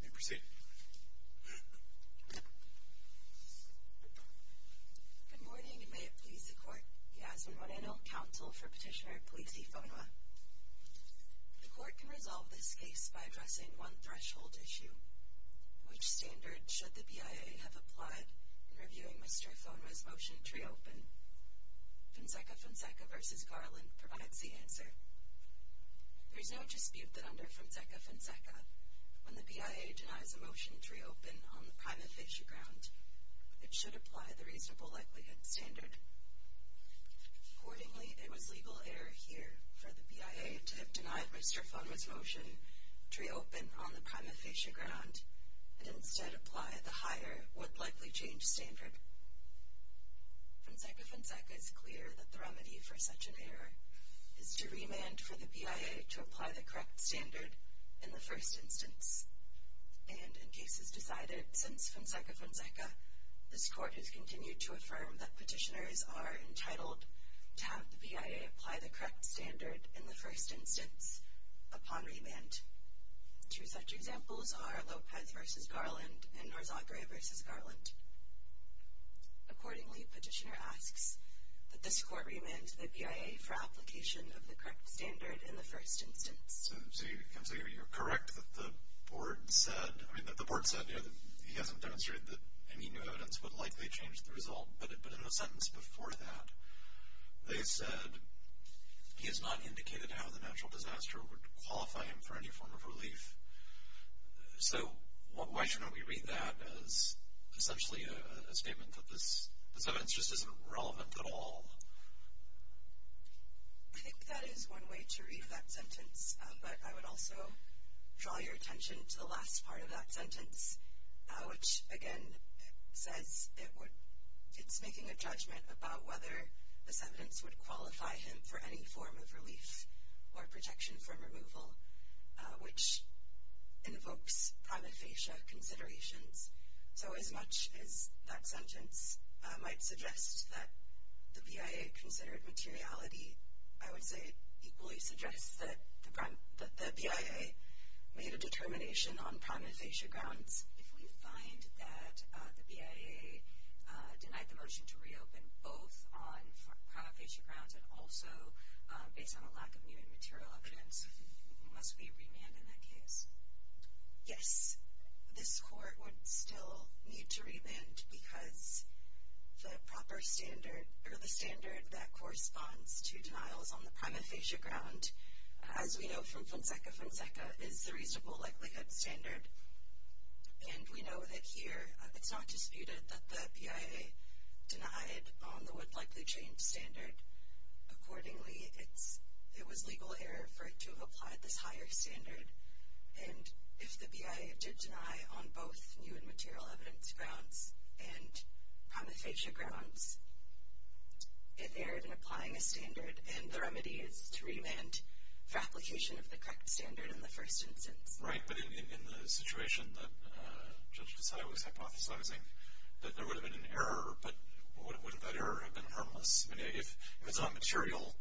Good morning, and may it please the Court, Yasmin Moreno, counsel for Petitioner Polizzi Fonua. The Court can resolve this case by addressing one threshold issue. Which standard should the BIA have applied in reviewing Mr. Fonua's motion to reopen? Fonseca Fonseca v. Garland provides the answer. There is no dispute that under Fonseca Fonseca, when the BIA denies a motion to reopen on the prima facie ground, it should apply the reasonable likelihood standard. Accordingly, it was legal error here for the BIA to have denied Mr. Fonua's motion to reopen on the prima facie ground, and instead apply the higher, would-likely-change standard. Fonseca Fonseca is clear that the remedy for such an error is to remand for the BIA to apply the correct standard in the first instance. And in cases decided since Fonseca Fonseca, this Court has continued to affirm that petitioners are entitled to have the BIA apply the correct standard in the first instance upon remand. Two such examples are Lopez v. Garland and Narzagre v. Garland. Accordingly, petitioner asks that this Court remand the BIA for application of the correct standard in the first instance. So you're correct that the board said, I mean, that the board said, you know, that he hasn't demonstrated that any new evidence would likely change the result, but in a sentence before that, they said he has not indicated how the natural disaster would qualify him for any form of relief. So why shouldn't we read that as essentially a statement that this evidence just isn't relevant at all? I think that is one way to read that sentence. But I would also draw your attention to the last part of that sentence, which, again, says it's making a judgment about whether this evidence would qualify him for any form of relief or protection from removal, which invokes prima facie considerations. So as much as that sentence might suggest that the BIA considered materiality, I would say it equally suggests that the BIA made a determination on prima facie grounds. If we find that the BIA denied the motion to reopen both on prima facie grounds and also based on a lack of new and material evidence, he must be remanded in that case. Yes, this court would still need to remand because the proper standard, or the standard that corresponds to denials on the prima facie ground, as we know from Fonseca Fonseca, is the reasonable likelihood standard. And we know that here it's not disputed that the BIA denied on the would-likely-change standard. Accordingly, it was legal error for it to have applied this higher standard. And if the BIA did deny on both new and material evidence grounds and prima facie grounds, it erred in applying a standard, and the remedy is to remand for application of the correct standard in the first instance. Right, but in the situation that Judge Desai was hypothesizing, that there would have been an error, but wouldn't that error have been harmless? If it's not material,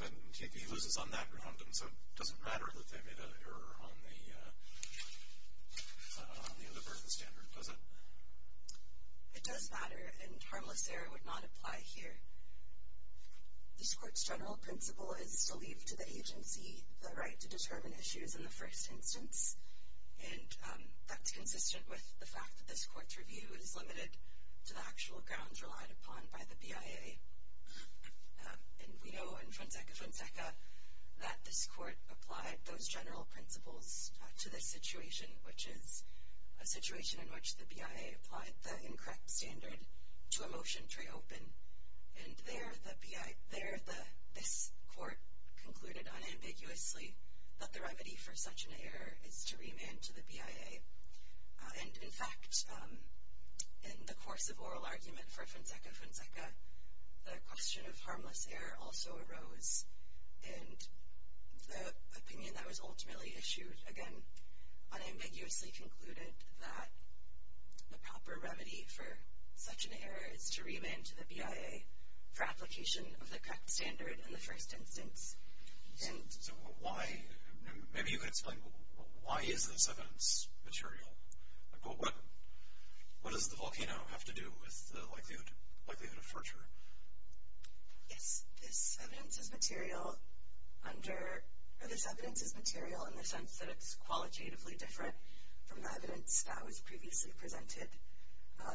then he loses on that ground, and so it doesn't matter that they made an error on the other person's standard, does it? It does matter, and harmless error would not apply here. This Court's general principle is to leave to the agency the right to determine issues in the first instance, and that's consistent with the fact that this Court's review is limited to the actual grounds relied upon by the BIA. And we know in Fonseca Fonseca that this Court applied those general principles to this situation, which is a situation in which the BIA applied the incorrect standard to a motion to reopen, and there this Court concluded unambiguously that the remedy for such an error is to remand to the BIA. And in fact, in the course of oral argument for Fonseca Fonseca, the question of harmless error also arose, and the opinion that was ultimately issued, again, unambiguously concluded that the proper remedy for such an error is to remand to the BIA for application of the correct standard in the first instance. So why, maybe you could explain, why is this evidence material? What does the volcano have to do with the likelihood of fracture? Yes, this evidence is material under, or this evidence is material in the sense that it's qualitatively different from the evidence that was previously presented.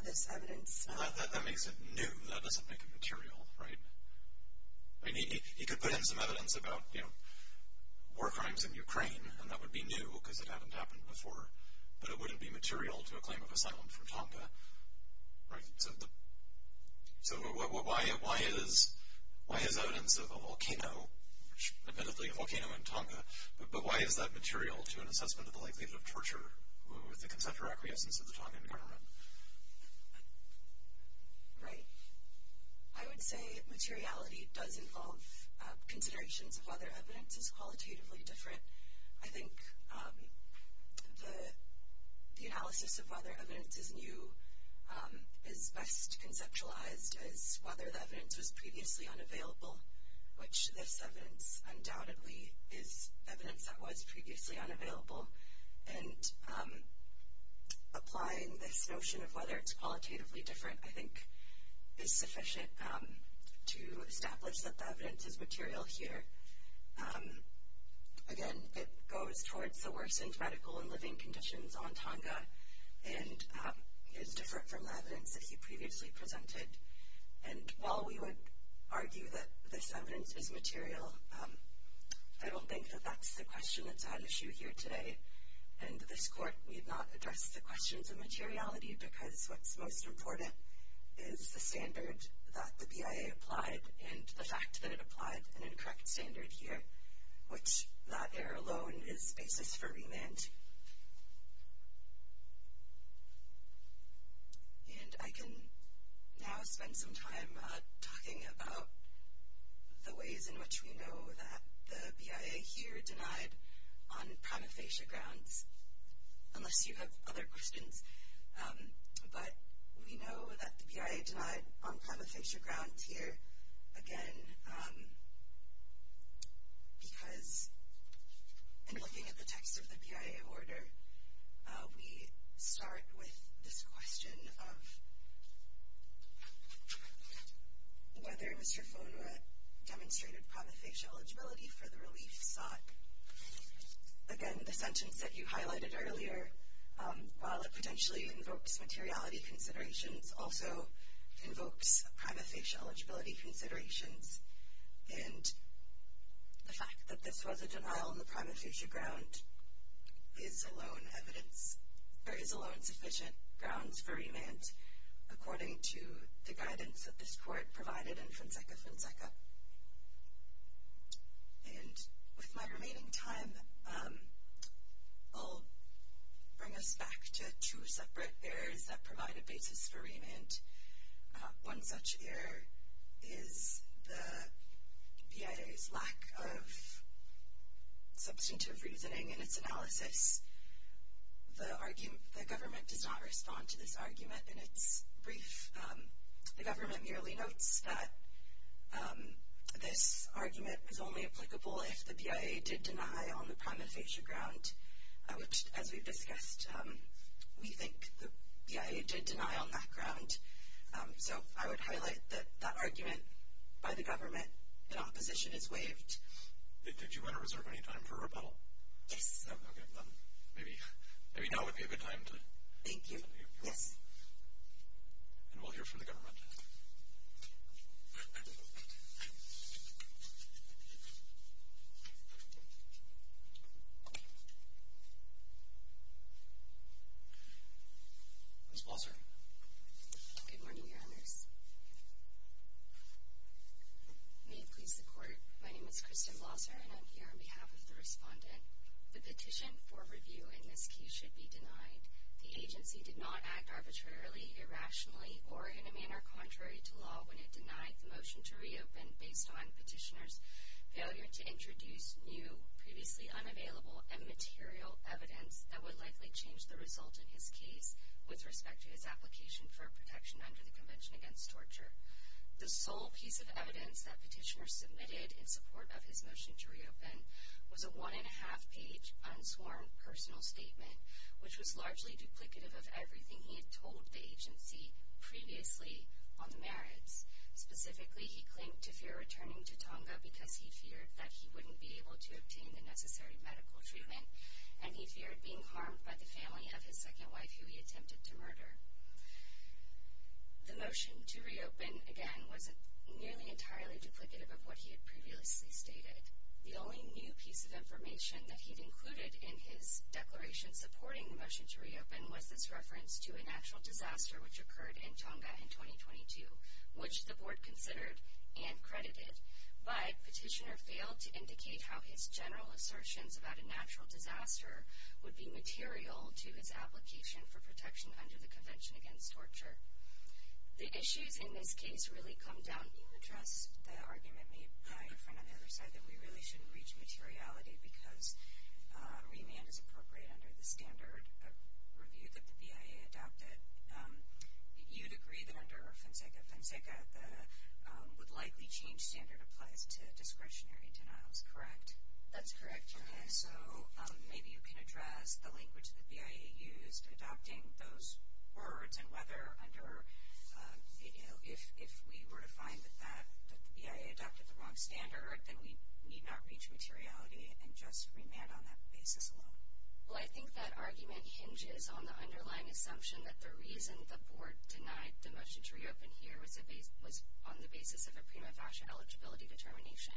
This evidence... That makes it new. That doesn't make it material, right? I mean, he could put in some evidence about, you know, war crimes in Ukraine, and that would be new because it hadn't happened before, but it wouldn't be material to a claim of asylum from Tonga, right? So why is evidence of a volcano, admittedly a volcano in Tonga, but why is that material to an assessment of the likelihood of torture with the conceptual acquiescence of the Tongan government? Right. I would say materiality does involve considerations of whether evidence is qualitatively different. I think the analysis of whether evidence is new is best conceptualized as whether the evidence was previously unavailable, which this evidence undoubtedly is evidence that was previously unavailable, and applying this notion of whether it's qualitatively different, I think, is sufficient to establish that the evidence is material here. Again, it goes towards the worsened medical and living conditions on Tonga and is different from the evidence that he previously presented. And while we would argue that this evidence is material, I don't think that that's the question that's at issue here today. And this court need not address the questions of materiality because what's most important is the standard that the BIA applied and the fact that it applied an incorrect standard here, which that error alone is basis for remand. And I can now spend some time talking about the ways in which we know that the BIA here denied on prima facie grounds, unless you have other questions. But we know that the BIA denied on prima facie grounds here, again, because in looking at the text of the BIA order, we start with this question of whether Mr. Fonera demonstrated prima facie eligibility for the relief sought. Again, the sentence that you highlighted earlier, while it potentially invokes materiality considerations, also invokes prima facie eligibility considerations. And the fact that this was a denial on the prima facie ground is alone sufficient grounds for remand, according to the guidance that this court provided in Fonseca Fonseca. And with my remaining time, I'll bring us back to two separate errors that provide a basis for remand. One such error is the BIA's lack of substantive reasoning in its analysis. The government does not respond to this argument in its brief. The government merely notes that this argument is only applicable if the BIA did deny on the prima facie ground, which, as we've discussed, we think the BIA did deny on that ground. So I would highlight that that argument by the government in opposition is waived. Did you want to reserve any time for rebuttal? Yes. Okay. Maybe now would be a good time. Thank you. Yes. And we'll hear from the government. Ms. Blosser. Good morning, Your Honors. May it please the Court, my name is Kristen Blosser, and I'm here on behalf of the respondent. The petition for review in this case should be denied. The agency did not act arbitrarily, irrationally, or in a manner contrary to law when it denied the motion to reopen based on Petitioner's failure to introduce new, previously unavailable, and material evidence that would likely change the result in his case with respect to his application for protection under the Convention Against Torture. The sole piece of evidence that Petitioner submitted in support of his motion to reopen was a one-and-a-half-page unsworn personal statement, which was largely duplicative of everything he had told the agency previously on the merits. Specifically, he claimed to fear returning to Tonga because he feared that he wouldn't be able to obtain the necessary medical treatment, and he feared being harmed by the family of his second wife, who he attempted to murder. The motion to reopen, again, was nearly entirely duplicative of what he had previously stated. The only new piece of information that he'd included in his declaration supporting the motion to reopen was this reference to a natural disaster which occurred in Tonga in 2022, which the board considered and credited. But Petitioner failed to indicate how his general assertions about a natural disaster would be material to his application for protection under the Convention Against Torture. The issues in this case really come down to— I will address the argument made by a friend on the other side that we really shouldn't reach materiality because remand is appropriate under the standard review that the BIA adopted. You'd agree that under Fonseca Fonseca, the would-likely-change standard applies to discretionary denials, correct? That's correct. Okay, so maybe you can address the language the BIA used adopting those words and whether under—if we were to find that the BIA adopted the wrong standard, then we need not reach materiality and just remand on that basis alone. Well, I think that argument hinges on the underlying assumption that the reason the board denied the motion to reopen here was on the basis of a prima facie eligibility determination.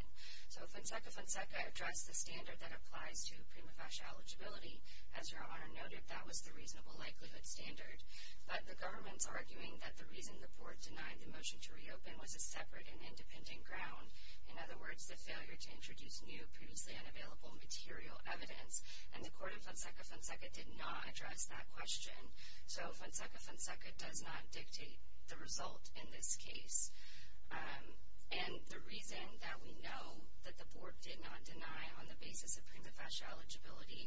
So Fonseca Fonseca addressed the standard that applies to prima facie eligibility. As Your Honor noted, that was the reasonable likelihood standard. But the government's arguing that the reason the board denied the motion to reopen was a separate and independent ground. In other words, the failure to introduce new, previously unavailable material evidence. And the court in Fonseca Fonseca did not address that question. So Fonseca Fonseca does not dictate the result in this case. And the reason that we know that the board did not deny on the basis of prima facie eligibility,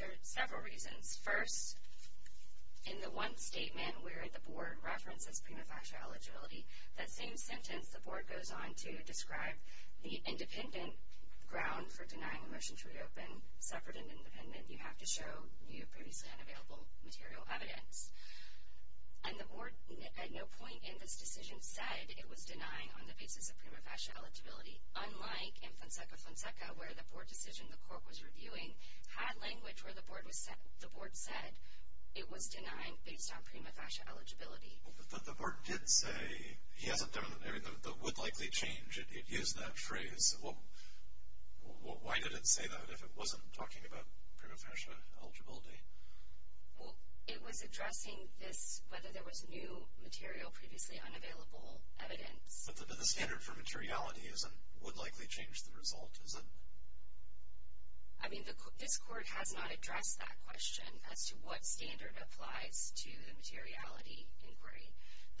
there are several reasons. First, in the one statement where the board references prima facie eligibility, that same sentence the board goes on to describe the independent ground for denying a motion to reopen, separate and independent, you have to show new, previously unavailable material evidence. And the board at no point in this decision said it was denying on the basis of prima facie eligibility, unlike in Fonseca Fonseca where the board decision the court was reviewing had language where the board said it was denying based on prima facie eligibility. But the board did say, he hasn't done, the would likely change, it used that phrase. Why did it say that if it wasn't talking about prima facie eligibility? Well, it was addressing this, whether there was new material, previously unavailable evidence. But the standard for materiality isn't would likely change the result, is it? I mean, this court has not addressed that question as to what standard applies to the materiality inquiry.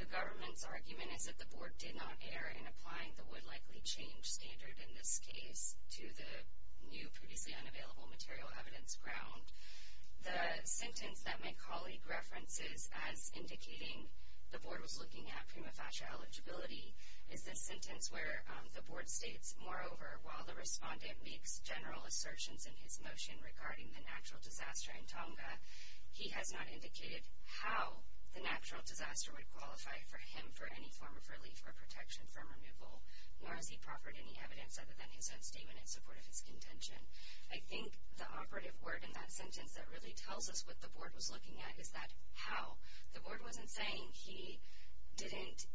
The government's argument is that the board did not err in applying the would likely change standard in this case to the new, previously unavailable material evidence ground. The sentence that my colleague references as indicating the board was looking at prima facie eligibility is this sentence where the board states, moreover, while the respondent makes general assertions in his motion regarding the natural disaster in Tonga, he has not indicated how the natural disaster would qualify for him for any form of relief or protection from removal, nor has he proffered any evidence other than his own statement in support of his contention. I think the operative word in that sentence that really tells us what the board was looking at is that how. The board wasn't saying he didn't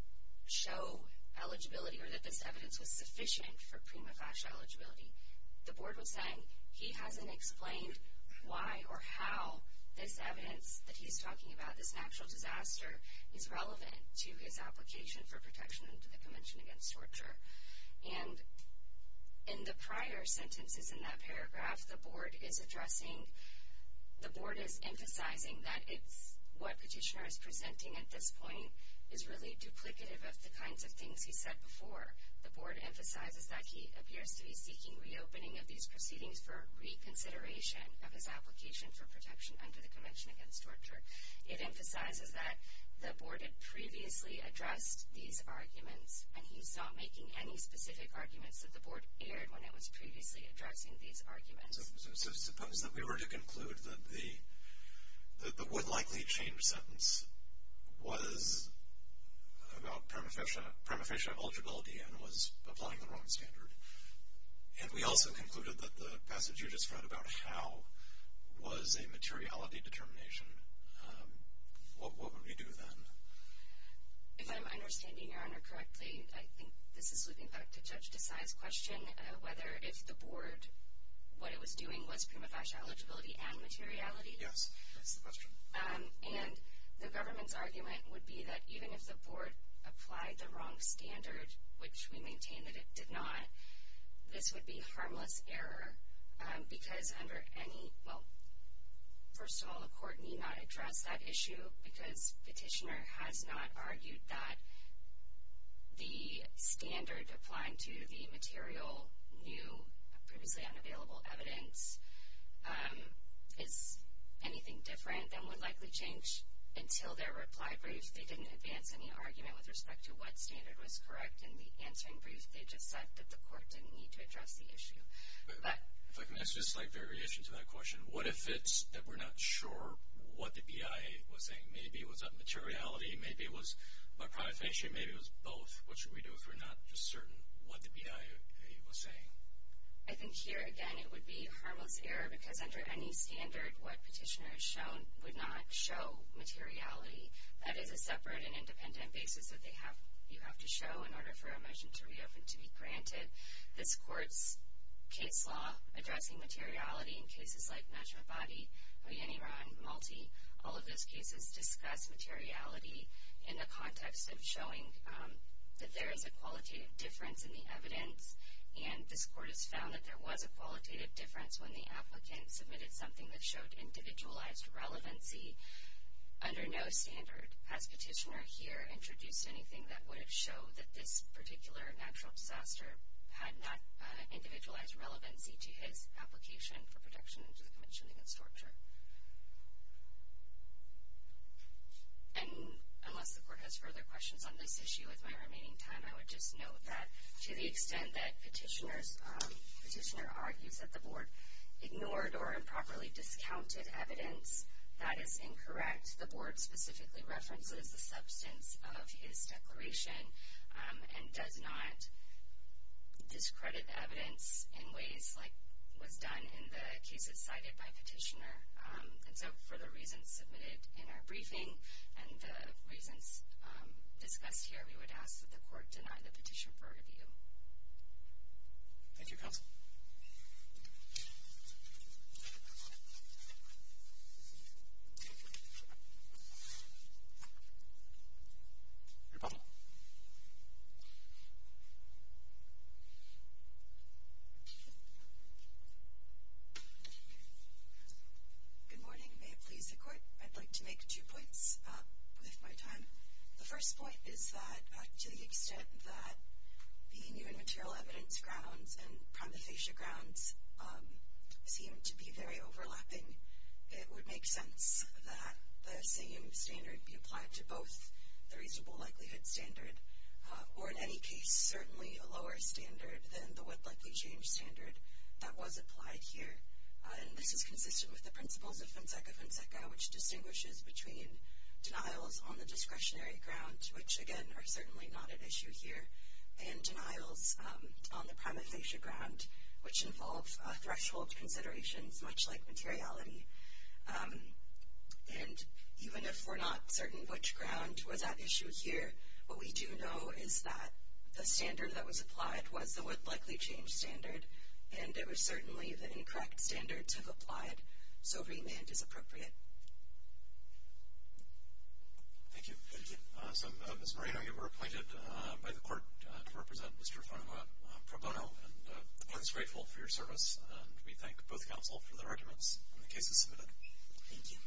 show eligibility or that this evidence was sufficient for prima facie eligibility. The board was saying he hasn't explained why or how this evidence that he's talking about, this natural disaster, is relevant to his application for protection under the Convention Against Torture. And in the prior sentences in that paragraph, the board is addressing, the board is emphasizing that it's, what petitioner is presenting at this point, is really duplicative of the kinds of things he said before. The board emphasizes that he appears to be seeking reopening of these proceedings for reconsideration of his application for protection under the Convention Against Torture. It emphasizes that the board had previously addressed these arguments and he's not making any specific arguments that the board aired when it was previously addressing these arguments. So suppose that we were to conclude that the would-likely-change sentence was about prima facie eligibility and was applying the wrong standard. And we also concluded that the passage you just read about how was a materiality determination. What would we do then? If I'm understanding Your Honor correctly, I think this is looking back to Judge Desai's question, whether if the board, what it was doing was prima facie eligibility and materiality. Yes, that's the question. And the government's argument would be that even if the board applied the wrong standard, which we maintain that it did not, this would be harmless error. Because under any, well, first of all, the court need not address that issue because petitioner has not argued that the standard applying to the material new, previously unavailable evidence is anything different than would-likely-change until their reply brief. They didn't advance any argument with respect to what standard was correct in the answering brief. They just said that the court didn't need to address the issue. If I can ask just a slight variation to that question, what if it's that we're not sure what the BIA was saying? Maybe it was about materiality, maybe it was about prima facie, maybe it was both. What should we do if we're not just certain what the BIA was saying? I think here, again, it would be a harmless error because under any standard what petitioner has shown would not show materiality. That is a separate and independent basis that you have to show in order for a motion to reopen to be granted. This court's case law addressing materiality in cases like Mashmabadi, Oyeniran, Malti, all of those cases discuss materiality in the context of showing that there is a qualitative difference in the evidence. And this court has found that there was a qualitative difference when the applicant submitted something that showed individualized relevancy under no standard. Has petitioner here introduced anything that would have showed that this particular natural disaster had not individualized relevancy to his application for protection under the Convention Against Torture? And unless the court has further questions on this issue with my remaining time, I would just note that to the extent that petitioner argues that the board ignored or improperly discounted evidence, that is incorrect. The board specifically references the substance of his declaration and does not discredit evidence in ways like was done in the cases cited by petitioner. And so for the reasons submitted in our briefing and the reasons discussed here, we would ask that the court deny the petition for review. Thank you, Counsel. Rebuttal. Good morning. May it please the court, I'd like to make two points with my time. The first point is that to the extent that the new and material evidence grounds and prima facie grounds seem to be very overlapping, it would make sense that the same standard be applied to both the reasonable likelihood standard, or in any case certainly a lower standard than the what likely change standard that was applied here. And this is consistent with the principles of Fonseca Fonseca, which distinguishes between denials on the discretionary ground, which again are certainly not an issue here, and denials on the prima facie ground, which involves threshold considerations much like materiality. And even if we're not certain which ground was at issue here, what we do know is that the standard that was applied was the what likely change standard, and it was certainly the incorrect standards have applied, so remand is appropriate. Thank you. Thank you. So Ms. Moreno, you were appointed by the court to represent Mr. Fonseca Pro Bono, and the court is grateful for your service, and we thank both counsel for their arguments and the cases submitted. Thank you.